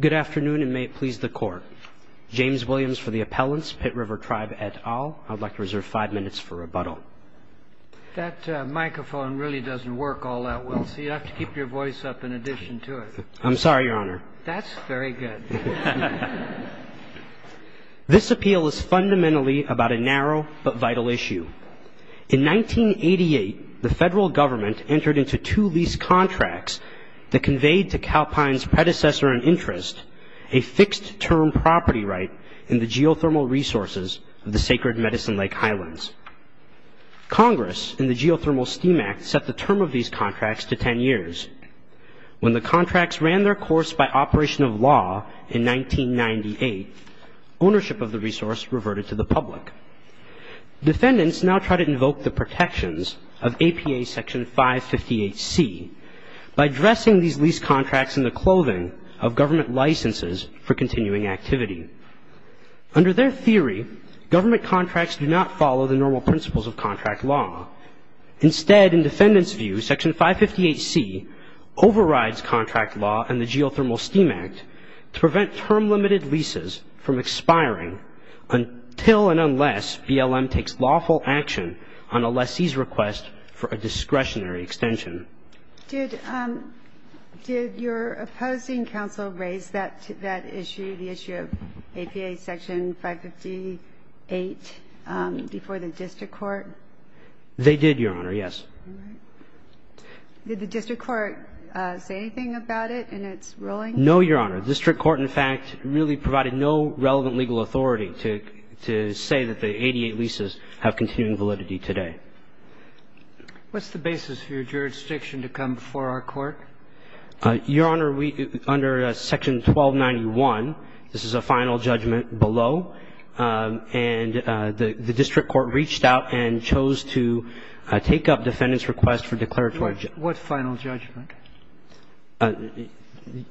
Good afternoon, and may it please the Court. James Williams for the Appellants, Pit River Tribe et al. I'd like to reserve five minutes for rebuttal. That microphone really doesn't work all that well, so you'll have to keep your voice up in addition to it. I'm sorry, Your Honor. That's very good. This appeal is fundamentally about a narrow but vital issue. In 1988, the federal government entered into two lease contracts that conveyed to Calpine's predecessor in interest a fixed-term property right in the geothermal resources of the Sacred Medicine Lake Highlands. Congress, in the Geothermal STEAM Act, set the term of these contracts to ten years. When the contracts ran their course by operation of law in 1998, ownership of the resource reverted to the public. Defendants now try to invoke the protections of APA Section 558C by dressing these lease contracts in the clothing of government licenses for continuing activity. Under their theory, government contracts do not follow the normal principles of contract law. Instead, in defendants' view, Section 558C overrides contract law and the Geothermal STEAM Act to prevent term-limited leases from expiring until and unless BLM takes lawful action on a lessee's request for a discretionary extension. Did your opposing counsel raise that issue, the issue of APA Section 558, before the district court? They did, Your Honor, yes. Did the district court say anything about it in its ruling? No, Your Honor. The district court, in fact, really provided no relevant legal authority to say that the 88 leases have continuing validity today. What's the basis for your jurisdiction to come before our court? Your Honor, under Section 1291, this is a final judgment below, and the district court reached out and chose to take up defendants' request for declaratory judgment. What final judgment?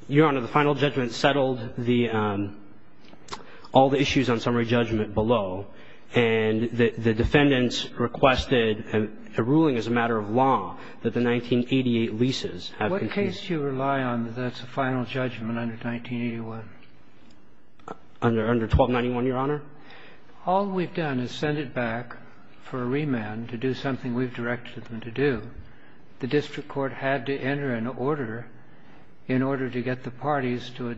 Your Honor, the final judgment settled the — all the issues on summary judgment below, and the defendants requested a ruling as a matter of law that the 1988 leases have continued. What case do you rely on that's a final judgment under 1981? Under 1291, Your Honor? All we've done is send it back for a remand to do something we've directed them to do. The district court had to enter an order in order to get the parties to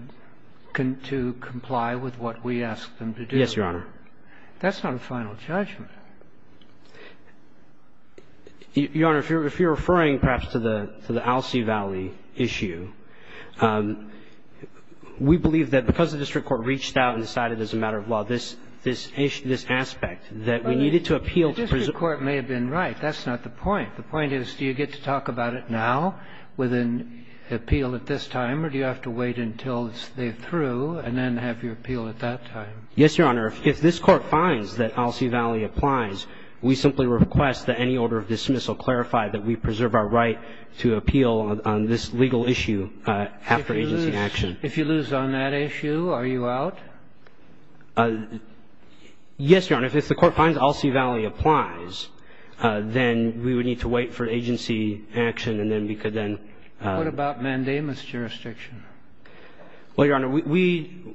comply with what we asked them to do. Yes, Your Honor. That's not a final judgment. Your Honor, if you're referring, perhaps, to the Alcee Valley issue, we believe that because the district court reached out and decided as a matter of law this issue, this aspect, that we needed to appeal to presume — The point is, do you get to talk about it now with an appeal at this time, or do you have to wait until they're through and then have your appeal at that time? Yes, Your Honor. If this Court finds that Alcee Valley applies, we simply request that any order of dismissal clarify that we preserve our right to appeal on this legal issue after agency action. If you lose on that issue, are you out? Yes, Your Honor. If the Court finds Alcee Valley applies, then we would need to wait for agency action, and then we could then — What about mandamus jurisdiction? Well, Your Honor, we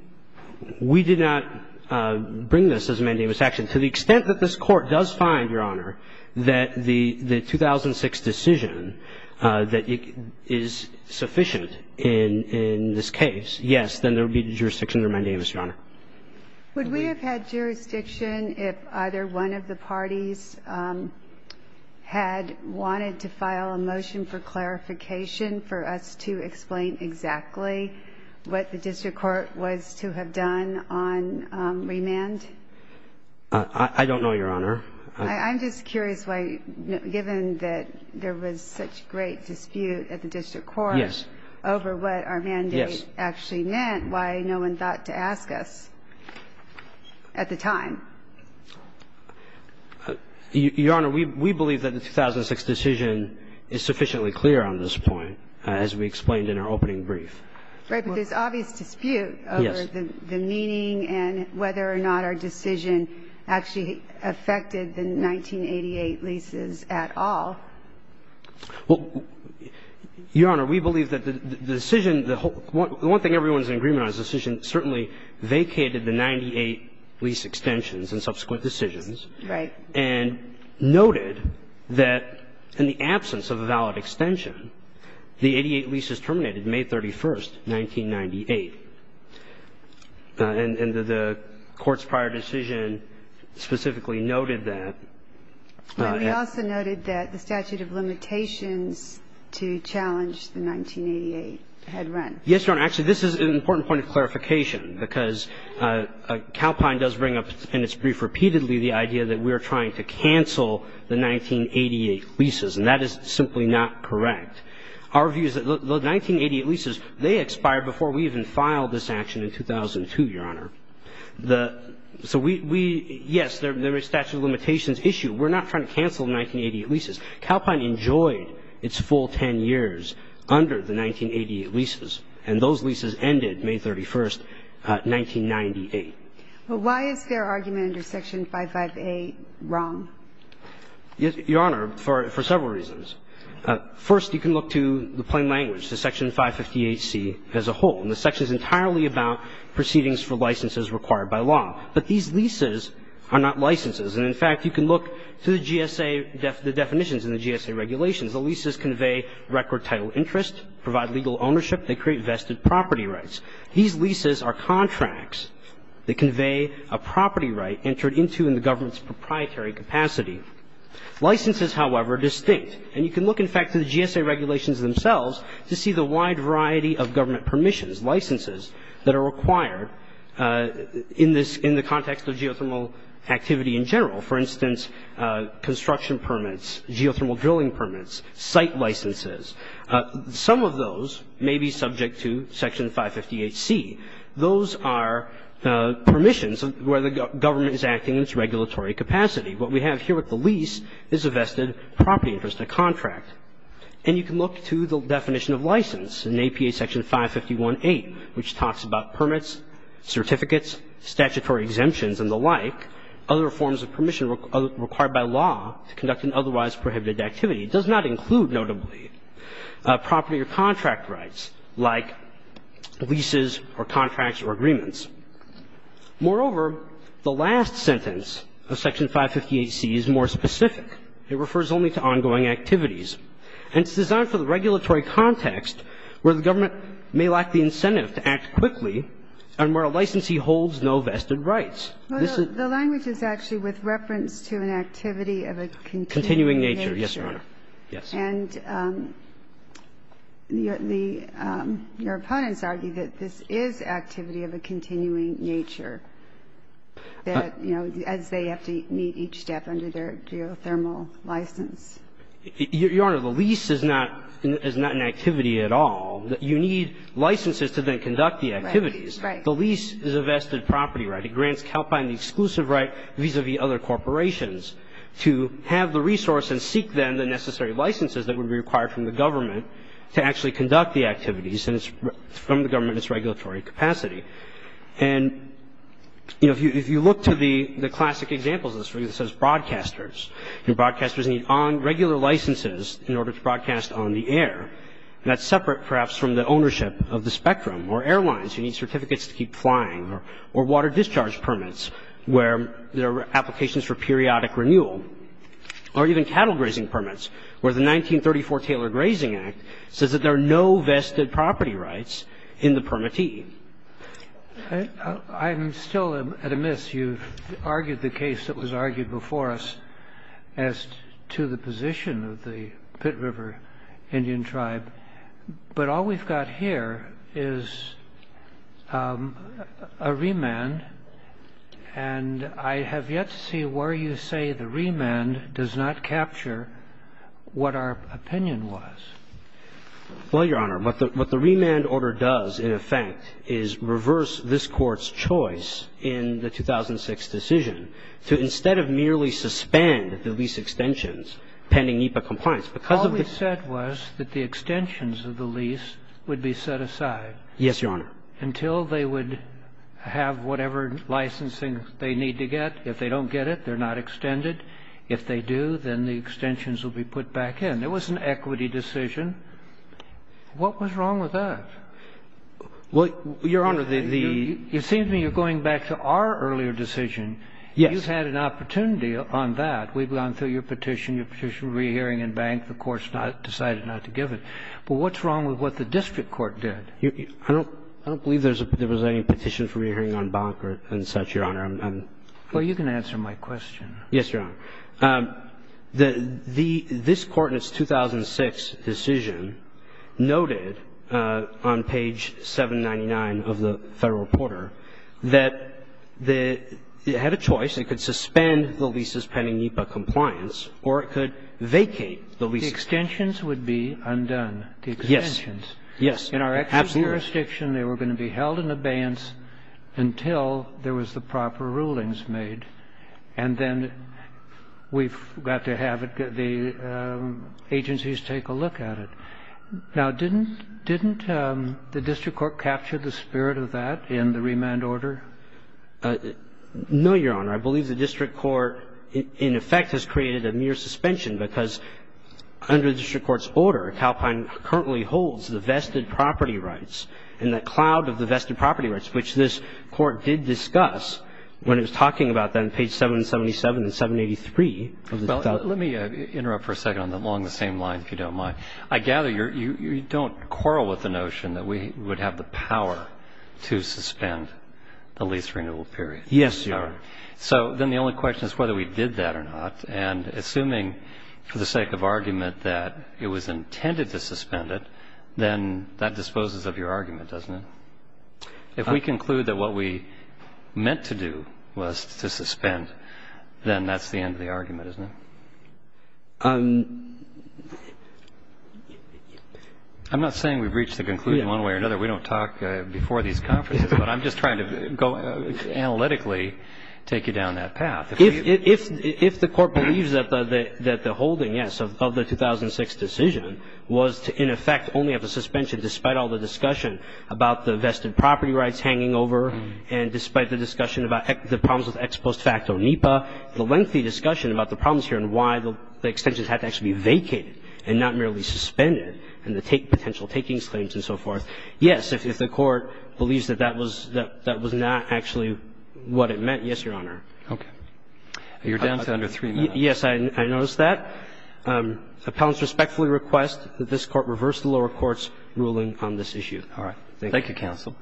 did not bring this as a mandamus action. To the extent that this Court does find, Your Honor, that the 2006 decision, that it is sufficient in this case, yes, then there would be jurisdiction under mandamus, Your Honor. Would we have had jurisdiction if either one of the parties had wanted to file a motion for clarification for us to explain exactly what the district court was to have done on remand? I don't know, Your Honor. I'm just curious why, given that there was such great dispute at the district court over what our mandate actually meant, why no one thought to ask us at the time. Your Honor, we believe that the 2006 decision is sufficiently clear on this point, as we explained in our opening brief. Right, but there's obvious dispute over the meaning and whether or not our decision actually affected the 1988 leases at all. Well, Your Honor, we believe that the decision — the one thing everyone is in agreement on is the decision certainly vacated the 98 lease extensions and subsequent decisions. Right. And noted that in the absence of a valid extension, the 88 leases terminated May 31, 1998. And the Court's prior decision specifically noted that. And we also noted that the statute of limitations to challenge the 1988 had run. Yes, Your Honor. Actually, this is an important point of clarification, because Calpine does bring up in its brief repeatedly the idea that we are trying to cancel the 1988 leases, and that is simply not correct. Our view is that the 1988 leases, they expired before we even filed this action in 2002, Your Honor. So we — yes, there is a statute of limitations issue. We're not trying to cancel the 1988 leases. Calpine enjoyed its full 10 years under the 1988 leases, and those leases ended May 31, 1998. Well, why is their argument under Section 55A wrong? Your Honor, for several reasons. First, you can look to the plain language, to Section 558C as a whole. And the section is entirely about proceedings for licenses required by law. But these leases are not licenses. And, in fact, you can look to the GSA definitions in the GSA regulations. The leases convey record title interest, provide legal ownership, they create vested property rights. These leases are contracts that convey a property right entered into in the government's proprietary capacity. Licenses, however, are distinct. And you can look, in fact, to the GSA regulations themselves to see the wide variety of government permissions, licenses that are required in the context of geothermal activity in general. For instance, construction permits, geothermal drilling permits, site licenses. Some of those may be subject to Section 558C. Those are permissions where the government is acting in its regulatory capacity. What we have here with the lease is a vested property interest, a contract. And you can look to the definition of license in APA Section 551A, which talks about permits, certificates, statutory exemptions and the like, other forms of permission required by law to conduct an otherwise prohibited activity. It does not include, notably, property or contract rights like leases or contracts or agreements. Moreover, the last sentence of Section 558C is more specific. It refers only to ongoing activities. And it's designed for the regulatory context where the government may lack the incentive to act quickly and where a licensee holds no vested rights. This is the language is actually with reference to an activity of a continuing nature. Yes, Your Honor. Yes. And your opponents argue that this is activity of a continuing nature, that, you know, as they have to meet each step under their geothermal license. Your Honor, the lease is not an activity at all. You need licenses to then conduct the activities. Right. The lease is a vested property right. It grants Calpine the exclusive right vis-à-vis other corporations to have the resource and seek then the necessary licenses that would be required from the government to actually conduct the activities. And from the government, it's regulatory capacity. And, you know, if you look to the classic examples of this, it says broadcasters. Your broadcasters need regular licenses in order to broadcast on the air. That's separate, perhaps, from the ownership of the spectrum. Or airlines, you need certificates to keep flying. Or water discharge permits where there are applications for periodic renewal. Or even cattle grazing permits where the 1934 Taylor Grazing Act says that there are no vested property rights in the permittee. I'm still amiss. You've argued the case that was argued before us as to the position of the Pitt River Indian tribe. But all we've got here is a remand. And I have yet to see where you say the remand does not capture what our opinion was. Well, Your Honor, what the remand order does, in effect, is reverse this Court's choice in the 2006 decision to, instead of merely suspend the lease extensions pending NEPA compliance, because of the ---- All we said was that the extensions of the lease would be set aside. Yes, Your Honor. Until they would have whatever licensing they need to get. If they don't get it, they're not extended. If they do, then the extensions will be put back in. And so we've gone through the petition. There was an equity decision. What was wrong with that? Well, Your Honor, the ---- It seems to me you're going back to our earlier decision. Yes. You've had an opportunity on that. We've gone through your petition, your petition for re-hearing in Bank. The Court's decided not to give it. But what's wrong with what the district court did? I don't believe there was any petition for re-hearing on Bank and such, Your Honor. Well, you can answer my question. Yes, Your Honor. The ---- this Court in its 2006 decision noted on page 799 of the Federal Reporter that the ---- it had a choice. It could suspend the leases pending NEPA compliance, or it could vacate the leases. The extensions would be undone. The extensions. Yes. Yes. In our actual jurisdiction, they were going to be held in abeyance until there was the proper rulings made. And then we've got to have the agencies take a look at it. Now, didn't the district court capture the spirit of that in the remand order? No, Your Honor. I believe the district court, in effect, has created a mere suspension because under the district court's order, Calpine currently holds the vested property rights, which this Court did discuss when it was talking about that on page 777 and 783. Well, let me interrupt for a second along the same line, if you don't mind. I gather you don't quarrel with the notion that we would have the power to suspend the lease renewal period. Yes, Your Honor. So then the only question is whether we did that or not. And assuming for the sake of argument that it was intended to suspend it, then that disposes of your argument, doesn't it? If we conclude that what we meant to do was to suspend, then that's the end of the argument, isn't it? I'm not saying we've reached the conclusion one way or another. We don't talk before these conferences. But I'm just trying to analytically take you down that path. If the Court believes that the holding, yes, of the 2006 decision was, in effect, only of the suspension despite all the discussion about the vested property rights hanging over and despite the discussion about the problems with ex post facto NEPA, the lengthy discussion about the problems here and why the extensions had to actually be vacated and not merely suspended and the potential takings claims and so forth, yes, if the Court believes that that was not actually what it meant, yes, Your Honor. Okay. You're down to under three minutes. Yes, I noticed that. I'm going to ask the Court to reverse the lower court's ruling on this issue. Thank you. Thank you, counsel.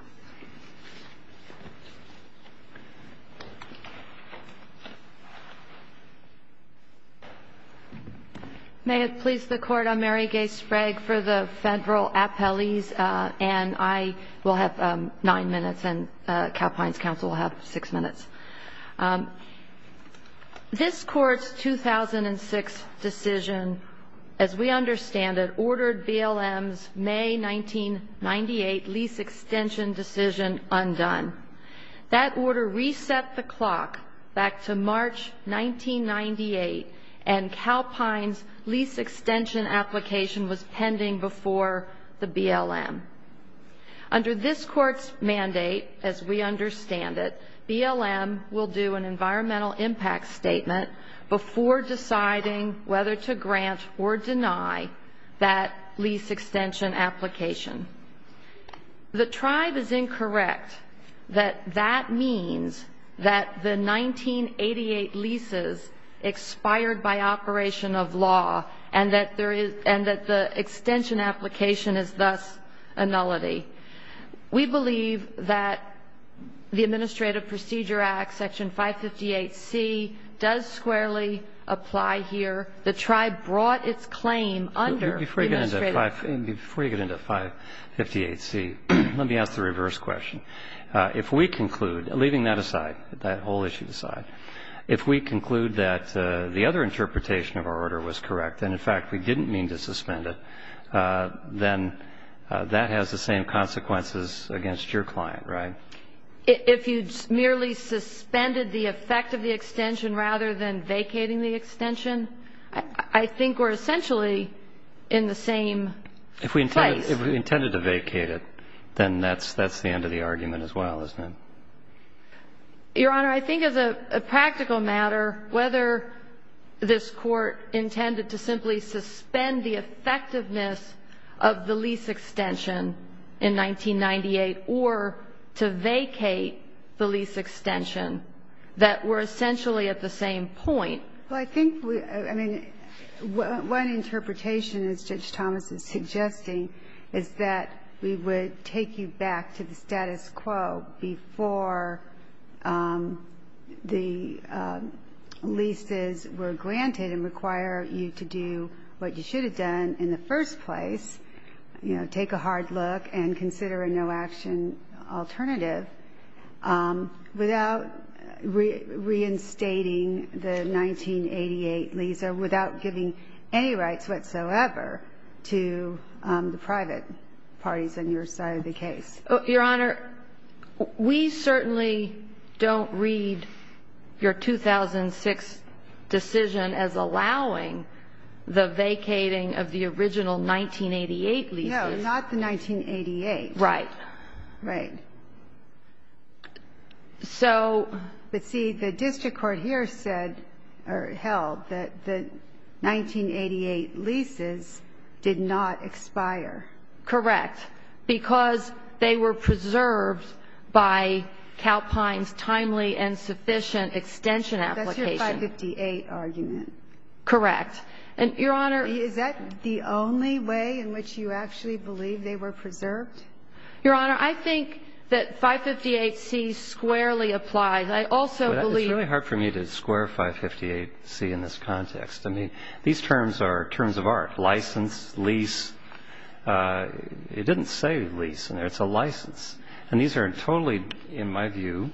May it please the Court. I'm Mary Gay Sprague for the Federal Appellees. And I will have nine minutes and Calpine's counsel will have six minutes. This Court's 2006 decision, as we understand it, ordered BLM's May 1998 lease extension decision undone. That order reset the clock back to March 1998 and Calpine's lease extension application was pending before the BLM. Under this Court's mandate, as we understand it, BLM will do an environmental impact statement before deciding whether to grant or deny that lease extension application. The tribe is incorrect that that means that the 1988 leases expired by operation of law and that the extension application is thus a nullity. We believe that the Administrative Procedure Act, Section 558C, does squarely apply here. The tribe brought its claim under the Administrative Procedure Act. Before you get into 558C, let me ask the reverse question. If we conclude, leaving that aside, that whole issue aside, if we conclude that the other interpretation of our order was correct, and, in fact, we didn't mean to suspend it, then that has the same consequences against your client, right? If you merely suspended the effect of the extension rather than vacating the extension, I think we're essentially in the same place. If we intended to vacate it, then that's the end of the argument as well, isn't it? Your Honor, I think as a practical matter, whether this Court intended to simply suspend the effectiveness of the lease extension in 1998 or to vacate the lease extension that we're essentially at the same point. Well, I think we — I mean, one interpretation, as Judge Thomas is suggesting, is that we would take you back to the status quo before the leases were granted and require you to do what you should have done in the first place, you know, take a hard look and consider a no-action alternative, without reinstating the 1988 lease or without giving any rights whatsoever to the private parties on your side of the case. Your Honor, we certainly don't read your 2006 decision as allowing the vacating of the original 1988 leases. No, not the 1988. Right. Right. But see, the district court here said or held that the 1988 leases did not expire. Correct. Because they were preserved by Calpine's timely and sufficient extension application. That's your 558 argument. Correct. And, Your Honor — Is that the only way in which you actually believe they were preserved? Your Honor, I think that 558C squarely applies. I also believe — It's really hard for me to square 558C in this context. I mean, these terms are terms of art, license, lease. It didn't say lease in there. It's a license. And these are totally, in my view,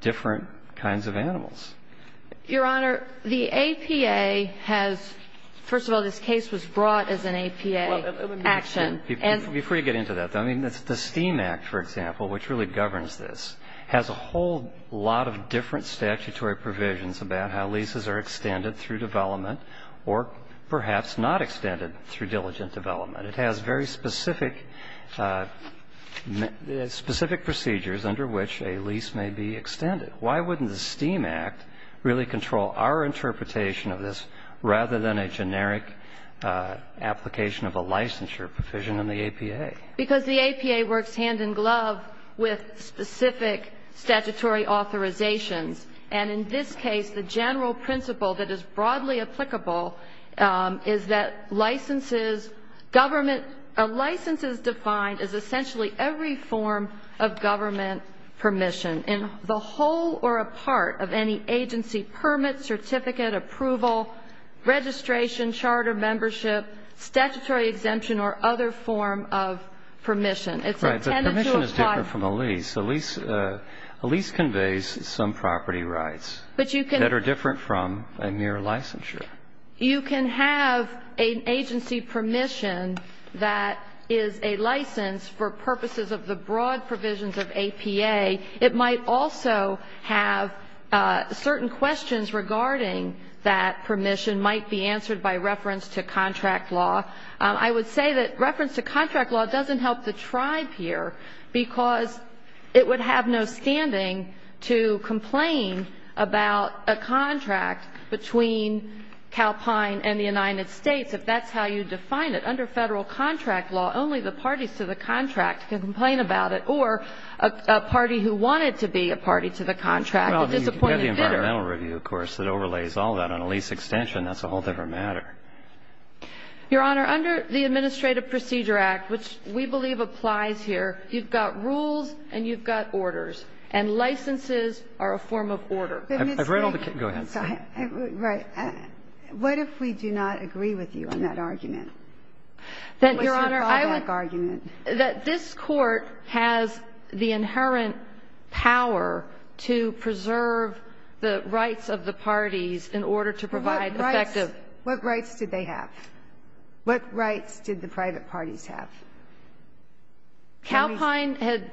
different kinds of animals. Your Honor, the APA has — first of all, this case was brought as an APA action. Before you get into that, though, I mean, the STEAM Act, for example, which really governs this, has a whole lot of different statutory provisions about how leases are extended through development or perhaps not extended through diligent development. It has very specific procedures under which a lease may be extended. Why wouldn't the STEAM Act really control our interpretation of this rather than a generic application of a licensure provision in the APA? Because the APA works hand-in-glove with specific statutory authorizations. And in this case, the general principle that is broadly applicable is that licenses government — a license is defined as essentially every form of government permission. And the whole or a part of any agency permit, certificate, approval, registration, charter membership, statutory exemption or other form of permission. It's intended to apply — Right. But permission is different from a lease. A lease conveys some property rights that are different from a mere licensure. You can have an agency permission that is a license for purposes of the broad provisions of APA. It might also have certain questions regarding that permission might be answered by reference to contract law. I would say that reference to contract law doesn't help the tribe here because it would have no standing to complain about a contract between Calpine and the United States if that's how you define it. And it's the same thing with the environmental review. If you have a lease extension, only the parties to the contract can complain about it, or a party who wanted to be a party to the contract, a disappointed bidder. Well, you can have the environmental review, of course, that overlays all that on a lease extension. That's a whole different matter. Your Honor, under the Administrative Procedure Act, which we believe applies here, you've got rules and you've got orders. And licenses are a form of order. Let me say — Go ahead. Right. What if we do not agree with you on that argument? Your Honor, I would — What's your callback argument? That this Court has the inherent power to preserve the rights of the parties in order to provide effective — What rights did they have? What rights did the private parties have? Calpine had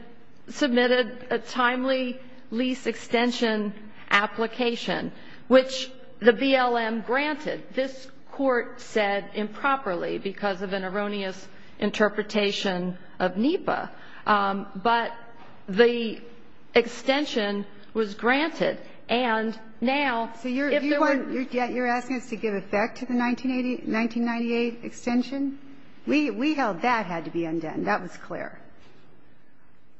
submitted a timely lease extension application, which the BLM granted. This Court said improperly because of an erroneous interpretation of NEPA. But the extension was granted. And now, if there were — So you're asking us to give effect to the 1998 extension? We held that had to be undone. That was clear.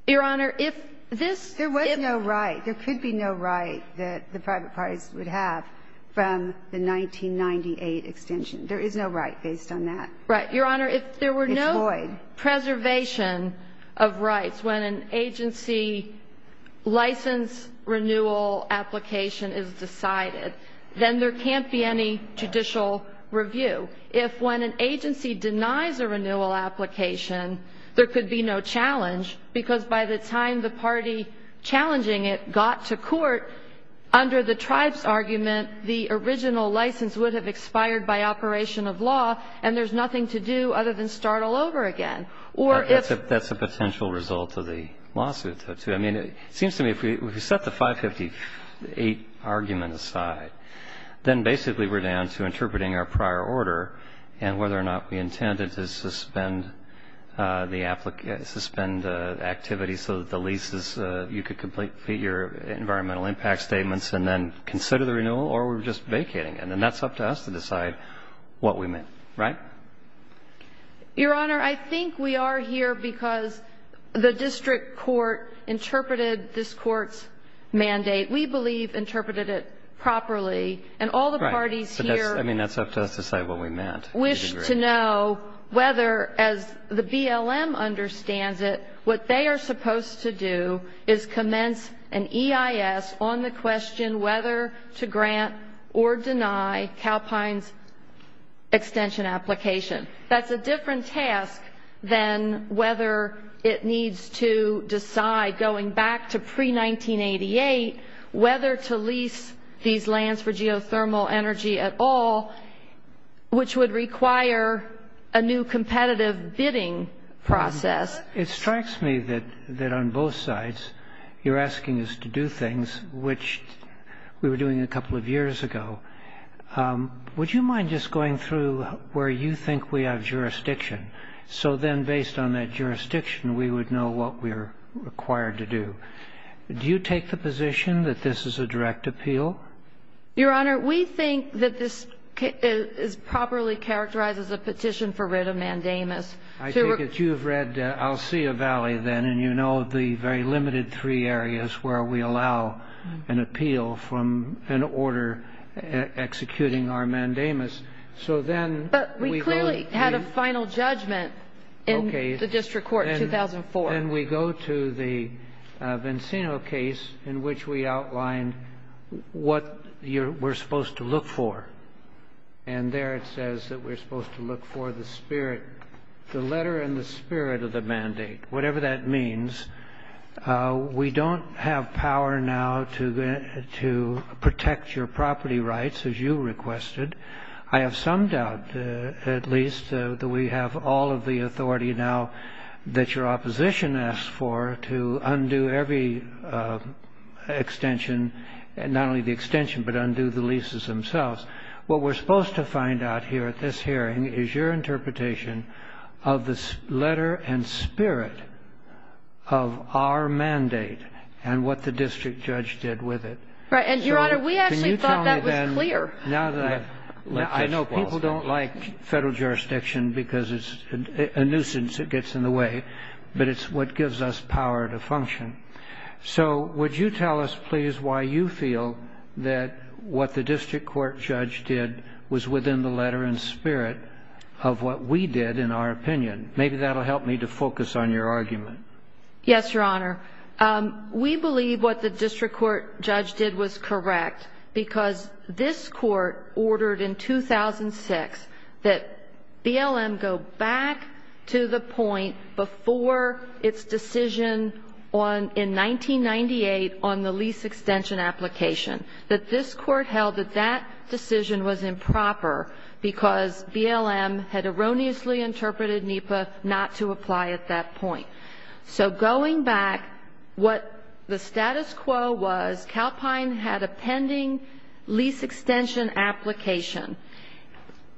Your Honor, if this — There was no right. There could be no right that the private parties would have from the 1998 extension. There is no right based on that. Right. Your Honor, if there were no — It's void. Preservation of rights. When an agency license renewal application is decided, then there can't be any judicial review. If when an agency denies a renewal application, there could be no challenge, because by the time the party challenging it got to court, under the tribe's argument, the original license would have expired by operation of law, and there's nothing to do other than start all over again. Or if — That's a potential result of the lawsuit, though, too. I mean, it seems to me if we set the 558 argument aside, then basically we're down to interpreting our prior order and whether or not we intended to suspend the activity so that the leases — you could complete your environmental impact statements and then consider the renewal, or we're just vacating it. And then that's up to us to decide what we meant. Right? Your Honor, I think we are here because the district court interpreted this court's mandate. We believe interpreted it properly. Right. I mean, that's up to us to decide what we meant. We wish to know whether, as the BLM understands it, what they are supposed to do is commence an EIS on the question whether to grant or deny Calpine's extension application. That's a different task than whether it needs to decide, going back to pre-1988, whether to lease these lands for geothermal energy at all, which would require a new competitive bidding process. It strikes me that on both sides you're asking us to do things which we were doing a couple of years ago. Would you mind just going through where you think we have jurisdiction, so then based on that jurisdiction we would know what we are required to do? Do you take the position that this is a direct appeal? Your Honor, we think that this is properly characterized as a petition for writ of mandamus. I take it you have read Alsea Valley, then, and you know the very limited three areas where we allow an appeal from an order executing our mandamus. So then we go to the ‑‑ But we clearly had a final judgment in the district court in 2004. Then we go to the Vinceno case in which we outlined what we're supposed to look for. And there it says that we're supposed to look for the spirit, the letter and the spirit of the mandate, whatever that means. We don't have power now to protect your property rights, as you requested. I have some doubt, at least, that we have all of the authority now that your opposition asks for to undo every extension, not only the extension, but undo the leases themselves. What we're supposed to find out here at this hearing is your interpretation of the letter and spirit of our mandate and what the district judge did with it. Right. And, Your Honor, we actually thought that was clear. Now that I know people don't like federal jurisdiction because it's a nuisance that gets in the way, but it's what gives us power to function. So would you tell us, please, why you feel that what the district court judge did was within the letter and spirit of what we did in our opinion? Maybe that will help me to focus on your argument. Yes, Your Honor. We believe what the district court judge did was correct because this court ordered in 2006 that BLM go back to the point before its decision in 1998 on the lease extension application, that this court held that that decision was improper because BLM had erroneously interpreted NEPA not to apply at that point. So going back, what the status quo was, Calpine had a pending lease extension application.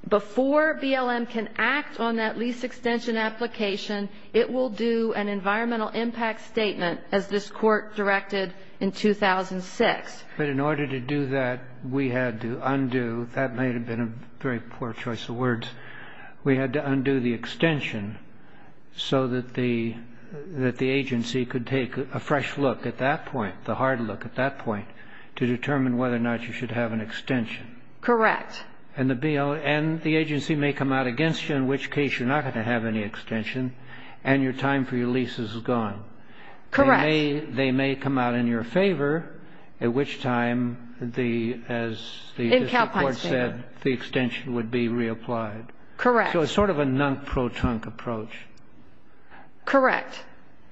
Before BLM can act on that lease extension application, it will do an environmental impact statement as this court directed in 2006. But in order to do that, we had to undo. That may have been a very poor choice of words. We had to undo the extension so that the agency could take a fresh look at that point, the hard look at that point, to determine whether or not you should have an extension. Correct. And the agency may come out against you, in which case you're not going to have any extension, and your time for your lease is gone. Correct. And they may come out in your favor, at which time, as the court said, the extension would be reapplied. Correct. So it's sort of a nunk-pro-tunk approach. Correct.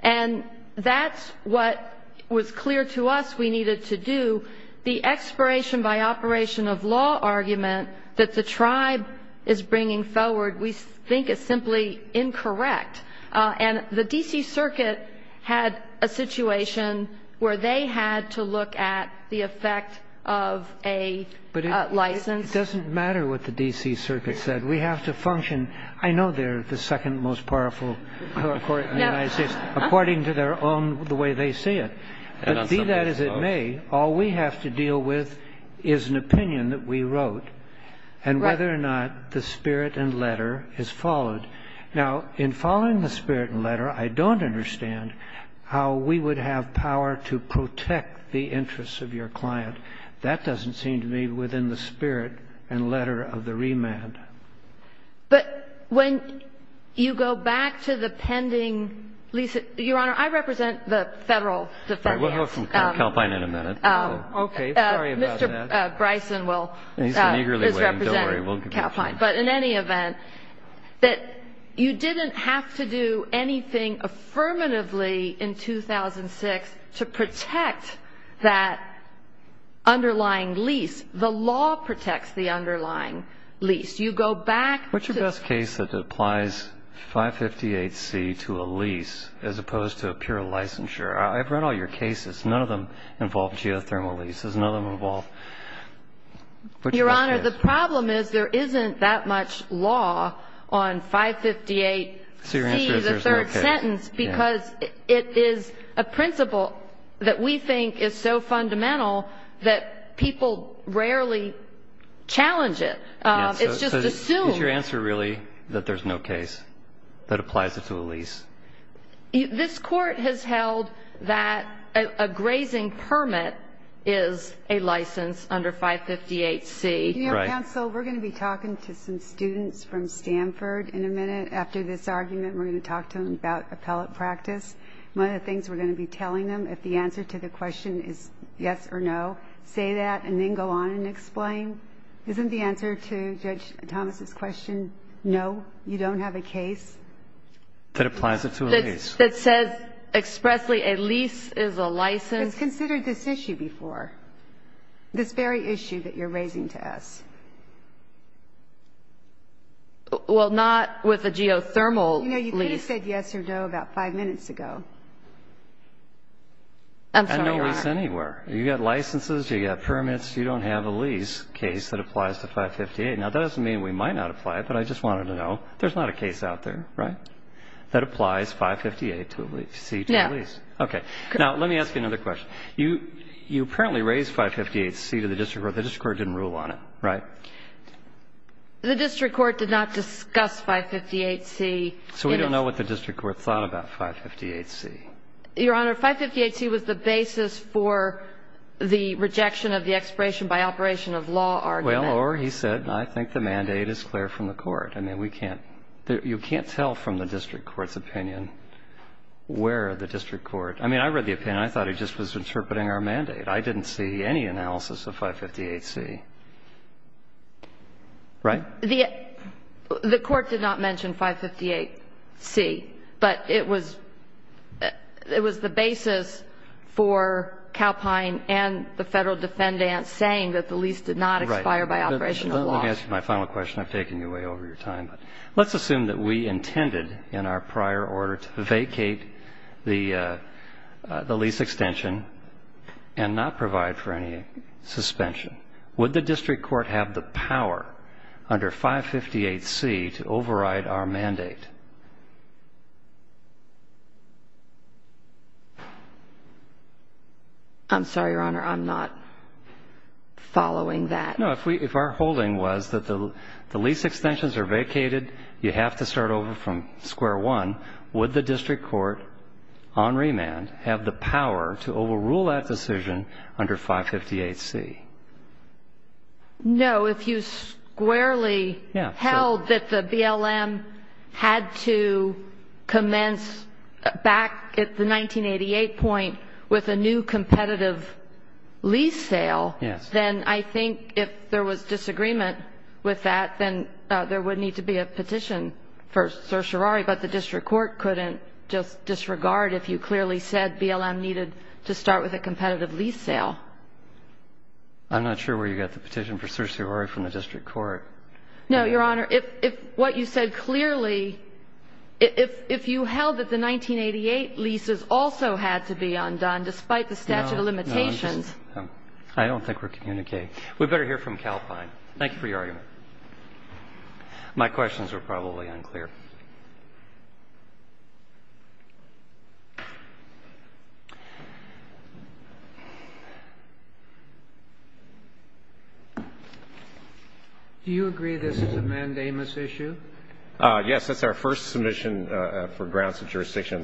And that's what was clear to us we needed to do. The expiration by operation of law argument that the tribe is bringing forward we think is simply incorrect. And the D.C. Circuit had a situation where they had to look at the effect of a license. But it doesn't matter what the D.C. Circuit said. We have to function. I know they're the second most powerful court in the United States, according to their own, the way they see it. But be that as it may, all we have to deal with is an opinion that we wrote, and whether or not the spirit and letter is followed. Now, in following the spirit and letter, I don't understand how we would have power to protect the interests of your client. That doesn't seem to me within the spirit and letter of the remand. But when you go back to the pending lease, Your Honor, I represent the federal defense. Sorry. We'll hear from Calpine in a minute. Okay. Sorry about that. Mr. Bryson will. He's eagerly waiting. Don't worry. We'll get to him. But in any event, that you didn't have to do anything affirmatively in 2006 to protect that underlying lease. The law protects the underlying lease. You go back to the- What's your best case that applies 558C to a lease as opposed to a pure licensure? I've read all your cases. None of them involve geothermal leases. None of them involve- Your Honor, the problem is there isn't that much law on 558C, the third sentence, because it is a principle that we think is so fundamental that people rarely challenge it. It's just assumed. Is your answer really that there's no case that applies it to a lease? This Court has held that a grazing permit is a license under 558C. Your Honor, counsel, we're going to be talking to some students from Stanford in a minute. After this argument, we're going to talk to them about appellate practice. One of the things we're going to be telling them, if the answer to the question is yes or no, say that and then go on and explain. Isn't the answer to Judge Thomas' question no, you don't have a case? That applies it to a lease. That says expressly a lease is a license. It's considered this issue before, this very issue that you're raising to us. Well, not with a geothermal lease. You know, you could have said yes or no about five minutes ago. I'm sorry, Your Honor. I know lease anywhere. You've got licenses. You've got permits. You don't have a lease case that applies to 558. Now, that doesn't mean we might not apply it, but I just wanted to know. There's not a case out there, right, that applies 558C to a lease? No. Okay. Now, let me ask you another question. You apparently raised 558C to the district court. The district court didn't rule on it, right? The district court did not discuss 558C. So we don't know what the district court thought about 558C. Your Honor, 558C was the basis for the rejection of the expiration by operation of law argument. Well, or he said, I think the mandate is clear from the court. I mean, we can't – you can't tell from the district court's opinion where the district court – I mean, I read the opinion. I thought he just was interpreting our mandate. I didn't see any analysis of 558C, right? The court did not mention 558C, but it was the basis for Calpine and the federal defendant saying that the lease did not expire by operation of law. Let me ask you my final question. I've taken you way over your time. Let's assume that we intended in our prior order to vacate the lease extension and not provide for any suspension. Would the district court have the power under 558C to override our mandate? I'm sorry, Your Honor. I'm not following that. No, if our holding was that the lease extensions are vacated, you have to start over from square one, would the district court on remand have the power to overrule that decision under 558C? No. If you squarely held that the BLM had to commence back at the 1988 point with a new competitive lease sale, then I think if there was disagreement with that, then there would need to be a petition for certiorari. But the district court couldn't just disregard if you clearly said BLM needed to start with a competitive lease sale. I'm not sure where you got the petition for certiorari from the district court. No, Your Honor. If what you said clearly, if you held that the 1988 leases also had to be undone despite the statute of limitations. I don't think we're communicating. We better hear from Calpine. Thank you for your argument. My questions are probably unclear. Do you agree this is a mandamus issue? Yes. That's our first submission for grounds of jurisdiction.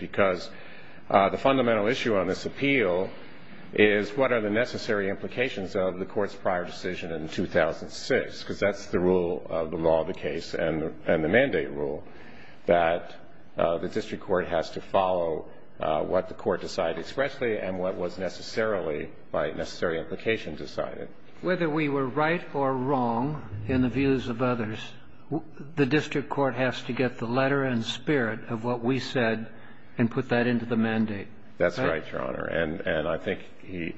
Because the fundamental issue on this appeal is what are the necessary implications of the court's prior decision in 2006? Because that's the rule of the law of the case and the mandate rule, that the district court has to follow what the court decided expressly and what was necessarily by necessary implication decided. Whether we were right or wrong in the views of others, the district court has to get the letter and spirit of what we said and put that into the mandate. That's right, Your Honor. And I think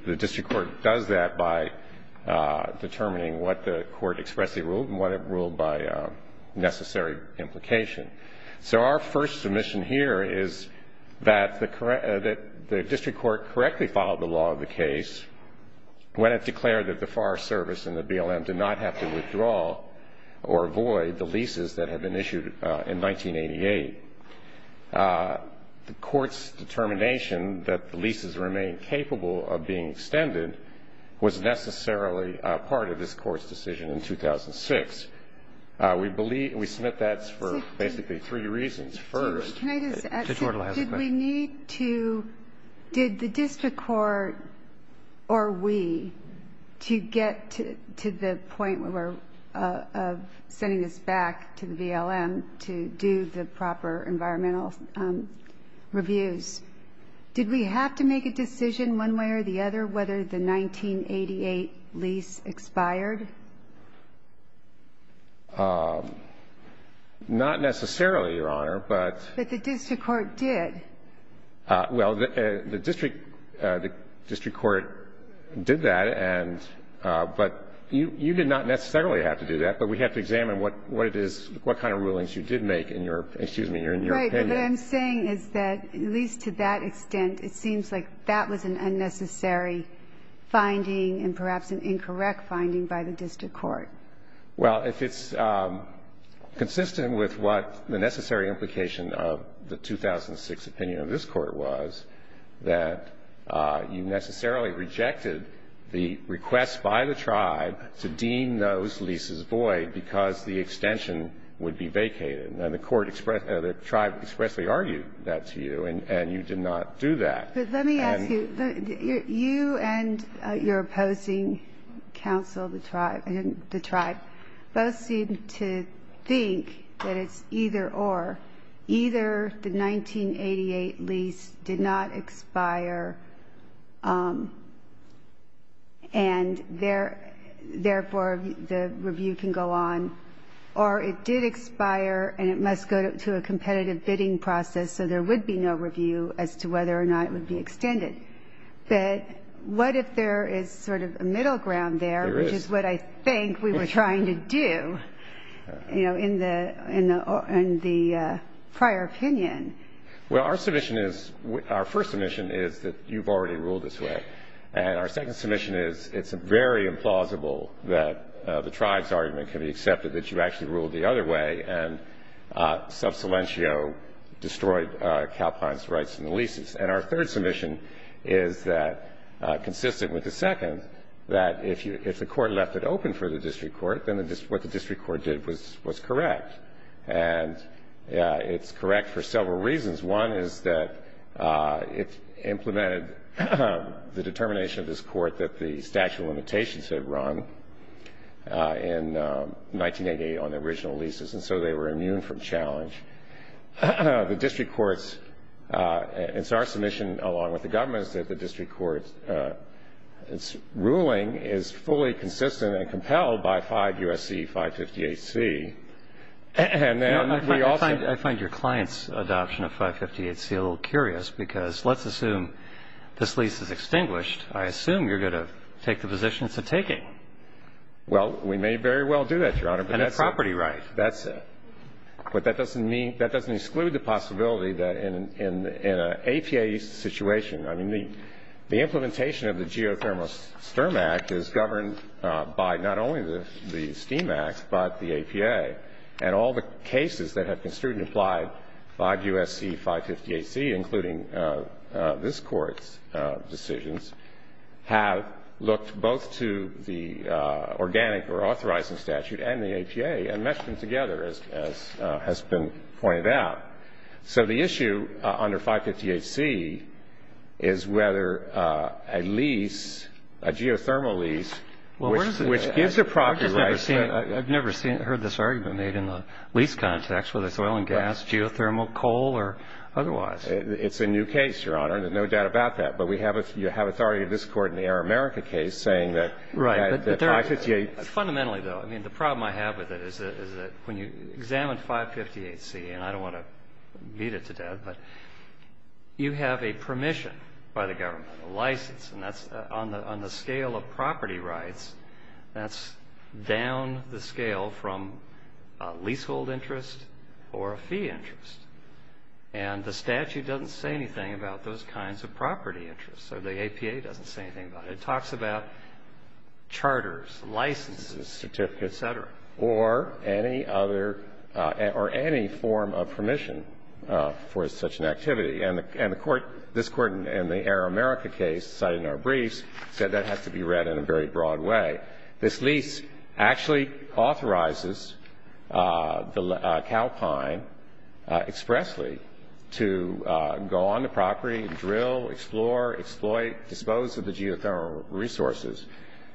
the district court does that by determining what the court expressly ruled and what it ruled by necessary implication. So our first submission here is that the district court correctly followed the law of the case when it declared that the Forest Service and the BLM did not have to withdraw or avoid the leases that had been issued in 1988. The court's determination that the leases remain capable of being extended was necessarily part of this court's decision in 2006. We submit that for basically three reasons. First, did we need to, did the district court or we to get to the point where we're sending this back to the BLM to do the proper environmental reviews? Did we have to make a decision one way or the other whether the 1988 lease expired? Not necessarily, Your Honor, but the district court did. Well, the district court did that, but you did not necessarily have to do that. But we have to examine what it is, what kind of rulings you did make in your opinion. Right. What I'm saying is that at least to that extent, it seems like that was an unnecessary finding and perhaps an incorrect finding by the district court. Well, if it's consistent with what the necessary implication of the 2006 opinion of this court was, that you necessarily rejected the request by the tribe to deem those leases void because the extension would be vacated. And the court expressed, the tribe expressly argued that to you, and you did not do that. But let me ask you, you and your opposing counsel, the tribe, both seem to think that it's either or. Either the 1988 lease did not expire and therefore the review can go on, or it did expire and it must go to a competitive bidding process so there would be no review as to whether or not it would be extended. But what if there is sort of a middle ground there? There is. Which is what I think we were trying to do, you know, in the prior opinion. Well, our submission is, our first submission is that you've already ruled this way. And our second submission is it's very implausible that the tribe's argument can be accepted that you actually ruled the other way and sub silentio destroyed Calpine's rights in the leases. And our third submission is that, consistent with the second, that if the court left it open for the district court, then what the district court did was correct. And it's correct for several reasons. One is that it implemented the determination of this court that the statute of limitations had run in 1988 on the original leases. And so they were immune from challenge. The district court's, it's our submission along with the government's, that the district court's ruling is fully consistent and compelled by 5 U.S.C. 558C. I find your client's adoption of 558C a little curious because let's assume this lease is extinguished. I assume you're going to take the position it's a taking. And a property right. That's it. But that doesn't exclude the possibility that in an APA situation, I mean the implementation of the Geothermal Sturm Act is governed by not only the STEAM Act but the APA. And all the cases that have construed and applied 5 U.S.C. 558C, including this court's decisions, have looked both to the organic or authorizing statute and the APA and meshed them together, as has been pointed out. So the issue under 558C is whether a lease, a geothermal lease, which gives a property right. I've never heard this argument made in the lease context, whether it's oil and gas, geothermal, coal or otherwise. It's a new case, Your Honor. No doubt about that. But you have authority in this court in the Air America case saying that 558. Fundamentally, though, I mean the problem I have with it is that when you examine 558C, and I don't want to beat it to death, but you have a permission by the government, a license. And that's on the scale of property rights. That's down the scale from a leasehold interest or a fee interest. And the statute doesn't say anything about those kinds of property interests, or the APA doesn't say anything about it. It talks about charters, licenses, certificates, et cetera. Or any other or any form of permission for such an activity. And the court, this Court in the Air America case cited in our briefs, said that has to be read in a very broad way. That this lease actually authorizes the cow pine expressly to go on the property, drill, explore, exploit, dispose of the geothermal resources.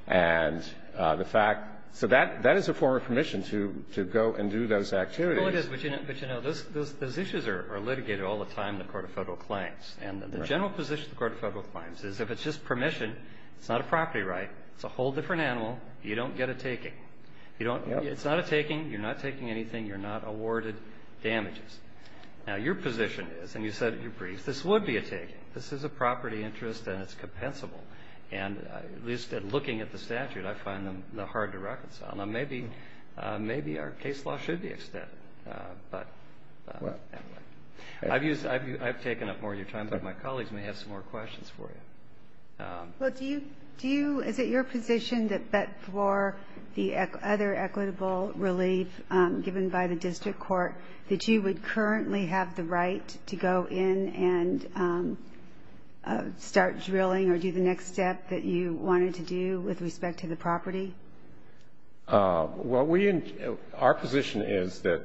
And the fact so that is a form of permission to go and do those activities. Well, it is, but, you know, those issues are litigated all the time in the Court of Federal Claims. And the general position of the Court of Federal Claims is if it's just permission, it's not a property right. It's a whole different animal. You don't get a taking. It's not a taking. You're not taking anything. You're not awarded damages. Now, your position is, and you said in your briefs, this would be a taking. This is a property interest, and it's compensable. And at least looking at the statute, I find them hard to reconcile. Now, maybe our case law should be extended. I've taken up more of your time, but my colleagues may have some more questions for you. Well, do you do you, is it your position that for the other equitable relief given by the district court, that you would currently have the right to go in and start drilling or do the next step that you wanted to do with respect to the property? Well, we, our position is that,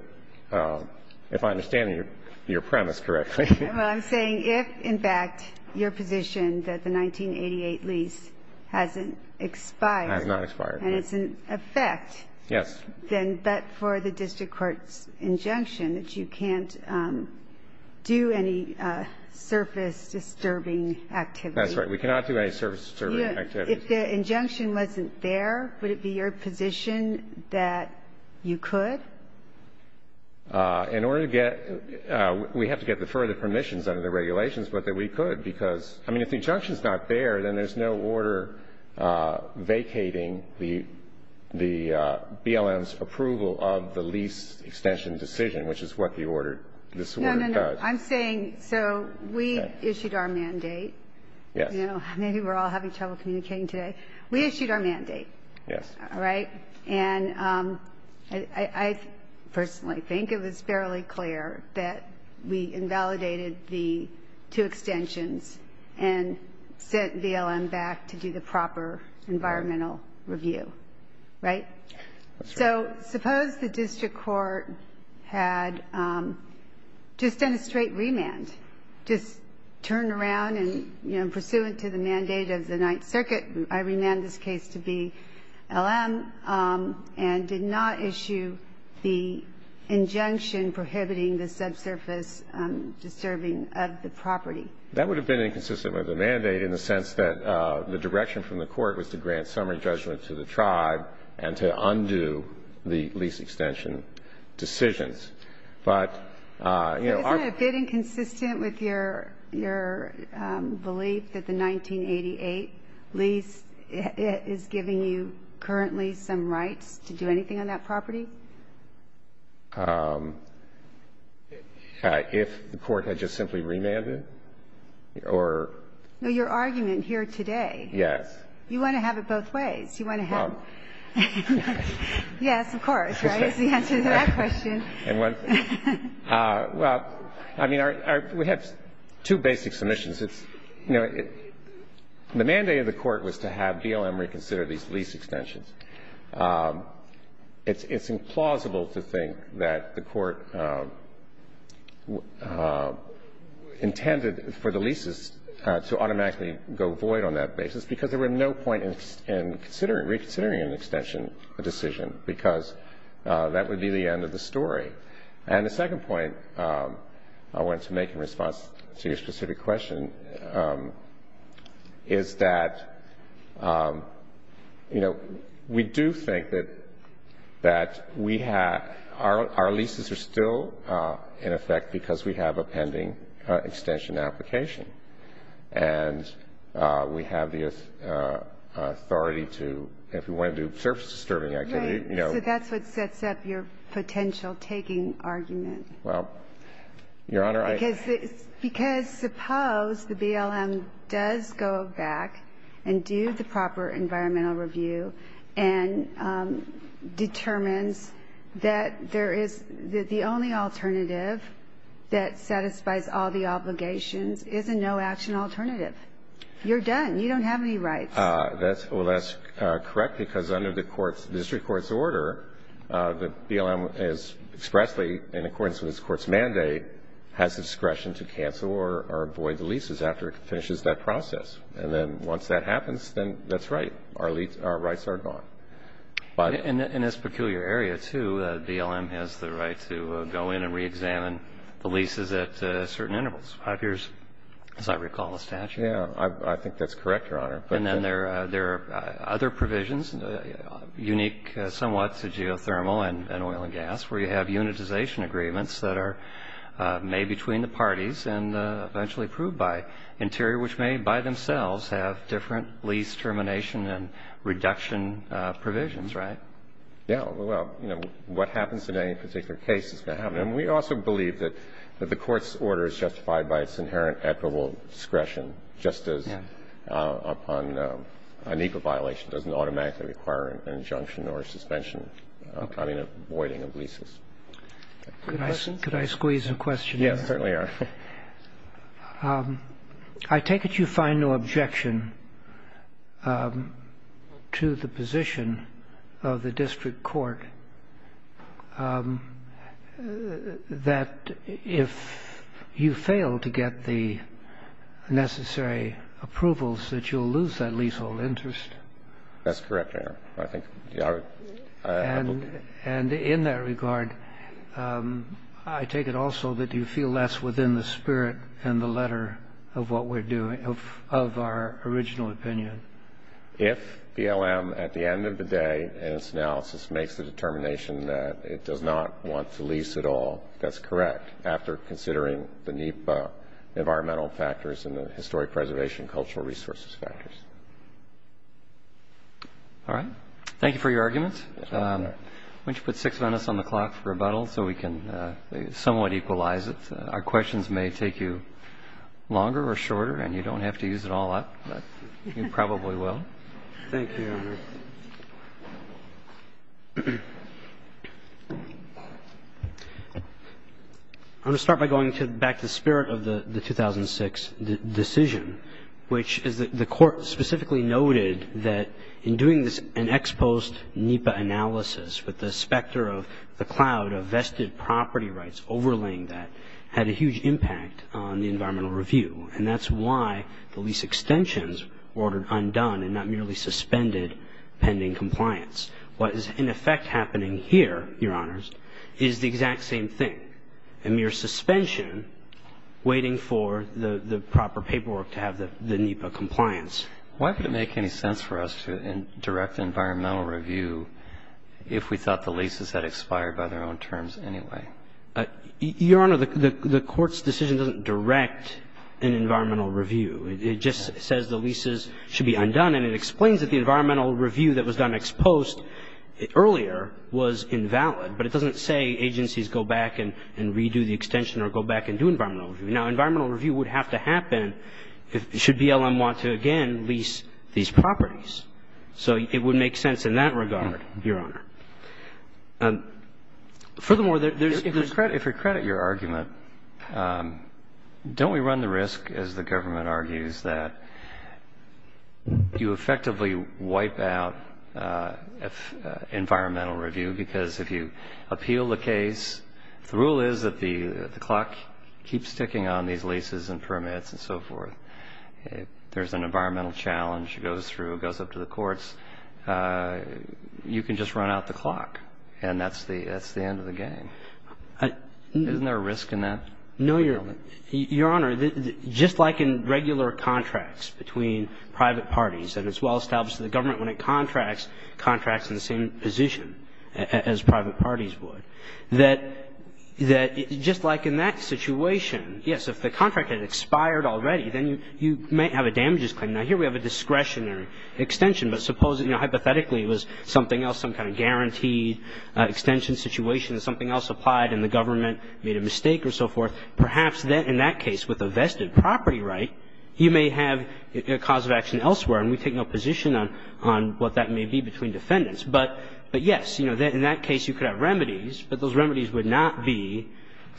if I understand your premise correctly. Well, I'm saying if, in fact, your position that the 1988 lease hasn't expired. Has not expired. And it's in effect. Yes. Then, but for the district court's injunction that you can't do any surface-disturbing activity. That's right. We cannot do any surface-disturbing activity. If the injunction wasn't there, would it be your position that you could? In order to get, we have to get the further permissions under the regulations, but that we could. Because, I mean, if the injunction's not there, then there's no order vacating the BLM's approval of the lease extension decision, which is what the order, this order does. No, no, no. I'm saying, so we issued our mandate. Yes. You know, maybe we're all having trouble communicating today. We issued our mandate. Yes. All right? And I personally think it was fairly clear that we invalidated the two extensions and sent BLM back to do the proper environmental review. Right? That's right. So suppose the district court had just done a straight remand. Just turned around and, you know, pursuant to the mandate of the Ninth Circuit, I remand this case to BLM and did not issue the injunction prohibiting the subsurface disturbing of the property. That would have been inconsistent with the mandate in the sense that the direction from the court was to grant summary judgment to the tribe and to undo the lease extension decisions. But, you know, our ---- So the district court, in the case of the Ninth Circuit, is giving you currently some rights to do anything on that property? If the court had just simply remanded or ---- Your argument here today. Yes. You want to have it both ways. You want to have ---- Well ---- Yes, of course, right? It's the answer to that question. Well, I mean, we have two basic submissions. It's, you know, the mandate of the court was to have BLM reconsider these lease extensions. It's implausible to think that the court intended for the leases to automatically go void on that basis because there were no point in reconsidering an extension decision because that would be the end of the story. And the second point I wanted to make in response to your specific question is that, you know, we do think that we have ---- our leases are still in effect because we have a pending extension application. And we have the authority to, if we want to do surface-disturbing activity, you know ---- Right. So that's what sets up your potential taking argument. Well, Your Honor, I ---- Because suppose the BLM does go back and do the proper environmental review and determines that there is the only alternative that satisfies all the obligations is a no-action alternative. You're done. You don't have any rights. Well, that's correct because under the district court's order, the BLM is expressly, in accordance with its court's mandate, has discretion to cancel or void the leases after it finishes that process. And then once that happens, then that's right. Our rights are gone. But ---- In this peculiar area, too, BLM has the right to go in and reexamine the leases at certain intervals. As I recall the statute. Yeah. I think that's correct, Your Honor. And then there are other provisions, unique somewhat to geothermal and oil and gas, where you have unitization agreements that are made between the parties and eventually approved by Interior, which may by themselves have different lease termination and reduction provisions, right? Yeah. Well, you know, what happens in any particular case is going to happen. And we also believe that the court's order is justified by its inherent equitable discretion just as upon an equal violation doesn't automatically require an injunction or a suspension, I mean, a voiding of leases. Could I squeeze in a question here? Yes, certainly, Your Honor. I take it you find no objection to the position of the district court that if you fail to get the necessary approvals that you'll lose that leasehold interest? That's correct, Your Honor. I think our ---- And in that regard, I take it also that you feel less within the spirit and the letter of what we're doing, of our original opinion. If BLM at the end of the day in its analysis makes the determination that it does not want to lease at all, that's correct after considering the NEPA environmental factors and the historic preservation cultural resources factors. All right. Thank you for your arguments. Why don't you put six minutes on the clock for rebuttal so we can somewhat equalize it. Our questions may take you longer or shorter, and you don't have to use it all up, but you probably will. Thank you, Your Honor. I'm going to start by going back to the spirit of the 2006 decision, which is that the court specifically noted that in doing an ex post NEPA analysis with the specter of the cloud of vested property rights overlaying that had a huge impact on the environmental review, and that's why the lease extensions were ordered undone and not merely suspended pending compliance. What is in effect happening here, Your Honors, is the exact same thing, a mere suspension waiting for the proper paperwork to have the NEPA compliance. Why would it make any sense for us to direct environmental review if we thought the leases had expired by their own terms anyway? Your Honor, the Court's decision doesn't direct an environmental review. It just says the leases should be undone, and it explains that the environmental review that was done ex post earlier was invalid, but it doesn't say agencies go back and redo the extension or go back and do environmental review. Now, environmental review would have to happen should BLM want to, again, lease these properties. So it would make sense in that regard, Your Honor. Furthermore, there's the question. If we credit your argument, don't we run the risk, as the government argues, that you effectively wipe out environmental review because if you appeal the case, the rule is that the clock keeps ticking on these leases and permits and so forth. If there's an environmental challenge, it goes through, it goes up to the courts, you can just run out the clock, and that's the end of the game. Isn't there a risk in that? No, Your Honor. Your Honor, just like in regular contracts between private parties, and it's well established that the government, when it contracts, contracts in the same position as private parties would, that just like in that situation, yes, if the contract had expired already, then you might have a damages claim. Now, here we have a discretionary extension, but suppose, you know, hypothetically, it was something else, some kind of guaranteed extension situation, and something else applied and the government made a mistake or so forth, perhaps then in that case with a vested property right, you may have a cause of action elsewhere, and we take no position on what that may be between defendants. But yes, you know, in that case you could have remedies, but those remedies would not be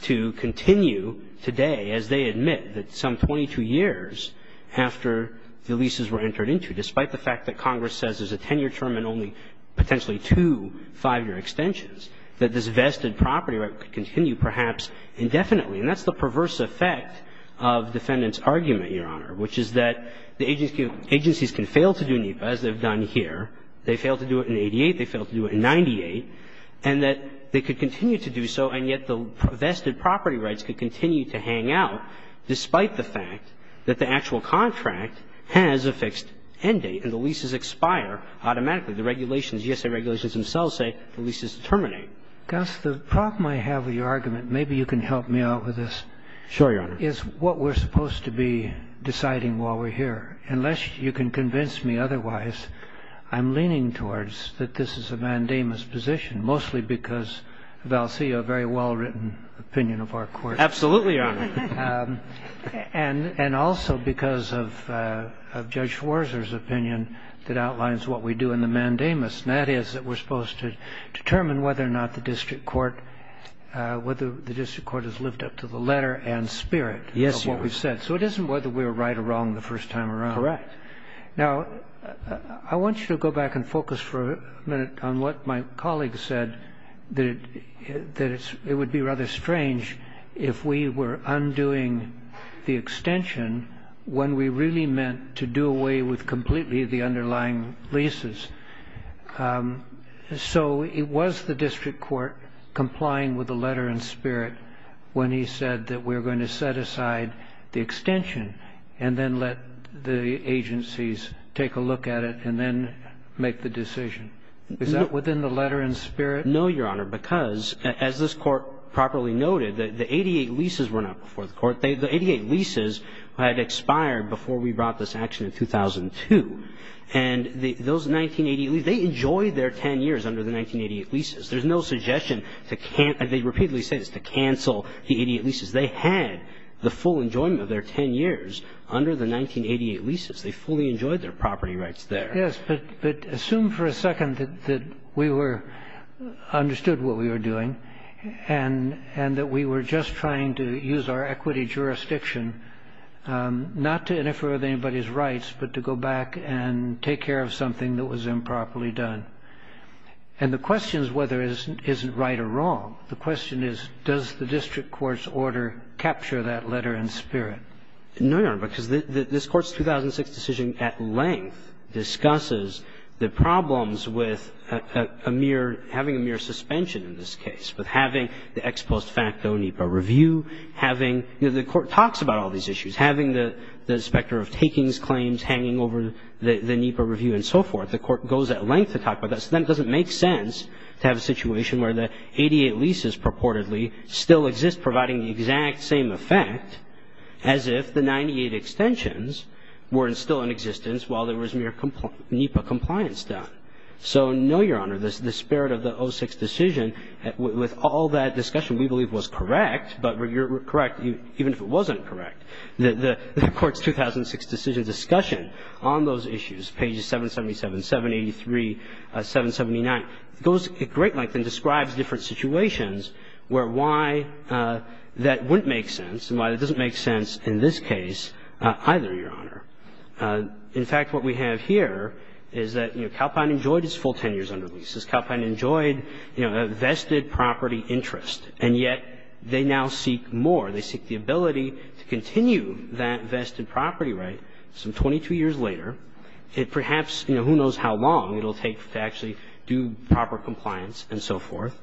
to continue today as they admit that some 22 years after the leases were entered into, despite the fact that Congress says there's a 10-year term and only potentially two five-year extensions, that this vested property right could continue perhaps indefinitely. And that's the perverse effect of defendants' argument, Your Honor, which is that the agencies can fail to do NEPA, as they've done here. They failed to do it in 88. They failed to do it in 98. And that they could continue to do so, and yet the vested property rights could continue to hang out despite the fact that the actual contract has a fixed end date and the leases expire automatically. The regulations, GSA regulations themselves say the leases terminate. Gus, the problem I have with your argument, maybe you can help me out with this. Sure, Your Honor. Is what we're supposed to be deciding while we're here. Unless you can convince me otherwise, I'm leaning towards that this is a mandamus position, mostly because Valcia, a very well-written opinion of our Court. Absolutely, Your Honor. And also because of Judge Schwarzer's opinion that outlines what we do in the mandamus. And that is that we're supposed to determine whether or not the district court has lived up to the letter and spirit of what we've said. Yes, Your Honor. So it isn't whether we were right or wrong the first time around. Correct. Now, I want you to go back and focus for a minute on what my colleague said, that it would be rather strange if we were undoing the extension when we really meant to do away with completely the underlying leases. So it was the district court complying with the letter and spirit when he said that we're going to set aside the extension and then let the agencies take a look at it and then make the decision. Is that within the letter and spirit? No, Your Honor, because as this Court properly noted, the 88 leases were not before the Court. The 88 leases had expired before we brought this action in 2002. And those 1988 leases, they enjoyed their 10 years under the 1988 leases. There's no suggestion to cancel the 88 leases. They had the full enjoyment of their 10 years under the 1988 leases. They fully enjoyed their property rights there. Yes, but assume for a second that we understood what we were doing and that we were just trying to use our equity jurisdiction not to interfere with anybody's rights but to go back and take care of something that was improperly done. And the question is whether it isn't right or wrong. The question is, does the district court's order capture that letter and spirit? No, Your Honor, because this Court's 2006 decision at length discusses the problems with having a mere suspension in this case, with having the ex post facto NEPA review, having the Court talks about all these issues, having the inspector of takings claims hanging over the NEPA review and so forth. The Court goes at length to talk about that. So then it doesn't make sense to have a situation where the 88 leases purportedly still exist providing the exact same effect as if the 98 extensions were still in existence while there was mere NEPA compliance done. So no, Your Honor, the spirit of the 06 decision with all that discussion we believe was correct, but correct even if it wasn't correct. The Court's 2006 decision discussion on those issues, pages 777, 783, 779, goes at great length and describes different situations where why that wouldn't make sense and why that doesn't make sense in this case either, Your Honor. In fact, what we have here is that, you know, Calpine enjoyed its full 10 years under lease. Calpine enjoyed, you know, a vested property interest, and yet they now seek more. They seek the ability to continue that vested property right some 22 years later. It perhaps, you know, who knows how long it will take to actually do proper compliance and so forth.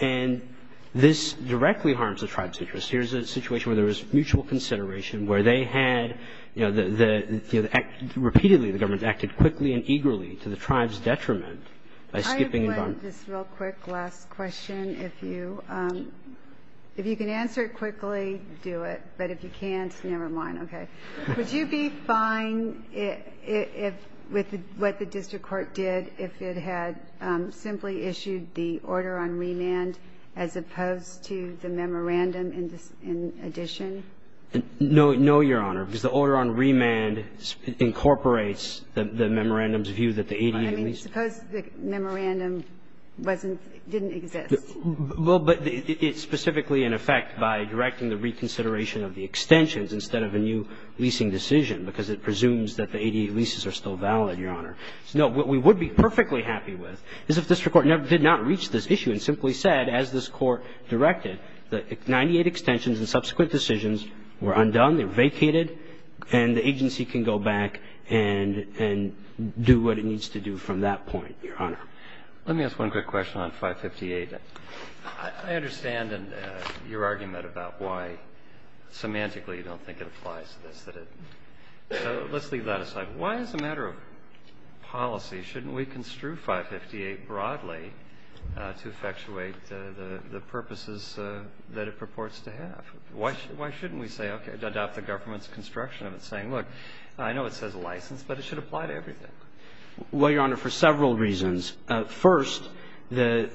And this directly harms the tribe's interest. Here's a situation where there was mutual consideration, where they had, you know, the act repeatedly, the government acted quickly and eagerly to the tribe's detriment by skipping bond. I have one just real quick last question. If you can answer it quickly, do it. But if you can't, never mind. Would you be fine if, with what the district court did, if it had simply issued the order on remand as opposed to the memorandum in addition? No, Your Honor, because the order on remand incorporates the memorandum's view that the 80 years lease. I mean, suppose the memorandum wasn't, didn't exist. Well, but it's specifically in effect by directing the reconsideration of the extensions instead of a new leasing decision, because it presumes that the 80 leases are still valid, Your Honor. No, what we would be perfectly happy with is if the district court did not reach this issue and simply said, as this court directed, that 98 extensions and subsequent decisions were undone, they were vacated, and the agency can go back and do what it needs to do from that point, Your Honor. Let me ask one quick question on 558. I understand your argument about why semantically you don't think it applies to this. Let's leave that aside. Why as a matter of policy shouldn't we construe 558 broadly to effectuate the purposes that it purports to have? Why shouldn't we say, okay, adopt the government's construction of it, saying, look, I know it says license, but it should apply to everything? Well, Your Honor, for several reasons. First, the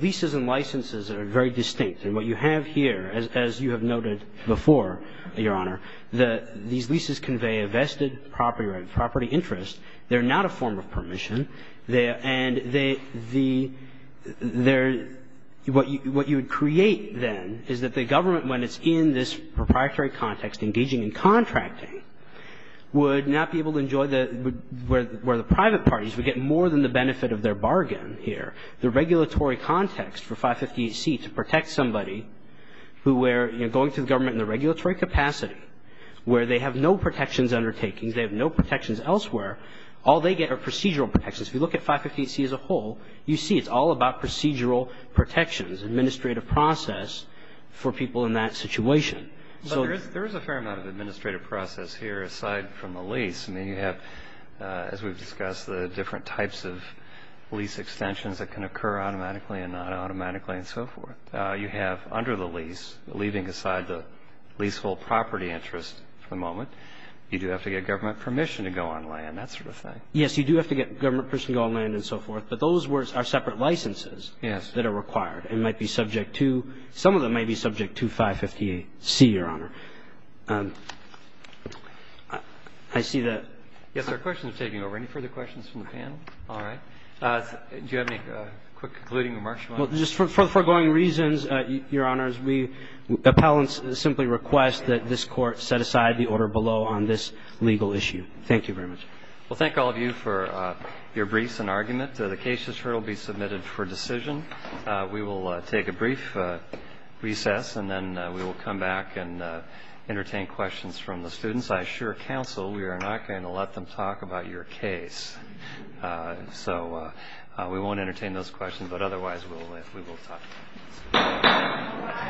leases and licenses are very distinct. And what you have here, as you have noted before, Your Honor, these leases convey a vested property right, property interest. They're not a form of permission. And what you would create, then, is that the government, when it's in this proprietary context, engaging in contracting, would not be able to enjoy where the private parties would get more than the benefit of their bargain here. The regulatory context for 558C to protect somebody who were going to the government in the regulatory capacity, where they have no protections undertakings, they have no protections elsewhere, all they get are procedural protections. If you look at 558C as a whole, you see it's all about procedural protections, administrative process for people in that situation. But there is a fair amount of administrative process here aside from the lease. I mean, you have, as we've discussed, the different types of lease extensions that can occur automatically and not automatically and so forth. You have under the lease, leaving aside the leasehold property interest for the moment, you do have to get government permission to go on land, that sort of thing. Yes, you do have to get government permission to go on land and so forth. But those are separate licenses that are required and might be subject to, some of them may be subject to 558C, Your Honor. I see that. Yes, our question is taking over. Any further questions from the panel? All right. Do you have any quick concluding remarks you want to make? Well, just for the foregoing reasons, Your Honors, we appellants simply request that this Court set aside the order below on this legal issue. Thank you very much. Well, thank all of you for your briefs and argument. The case is here to be submitted for decision. We will take a brief recess and then we will come back and entertain questions from the students. I assure counsel we are not going to let them talk about your case. So we won't entertain those questions, but otherwise we will talk.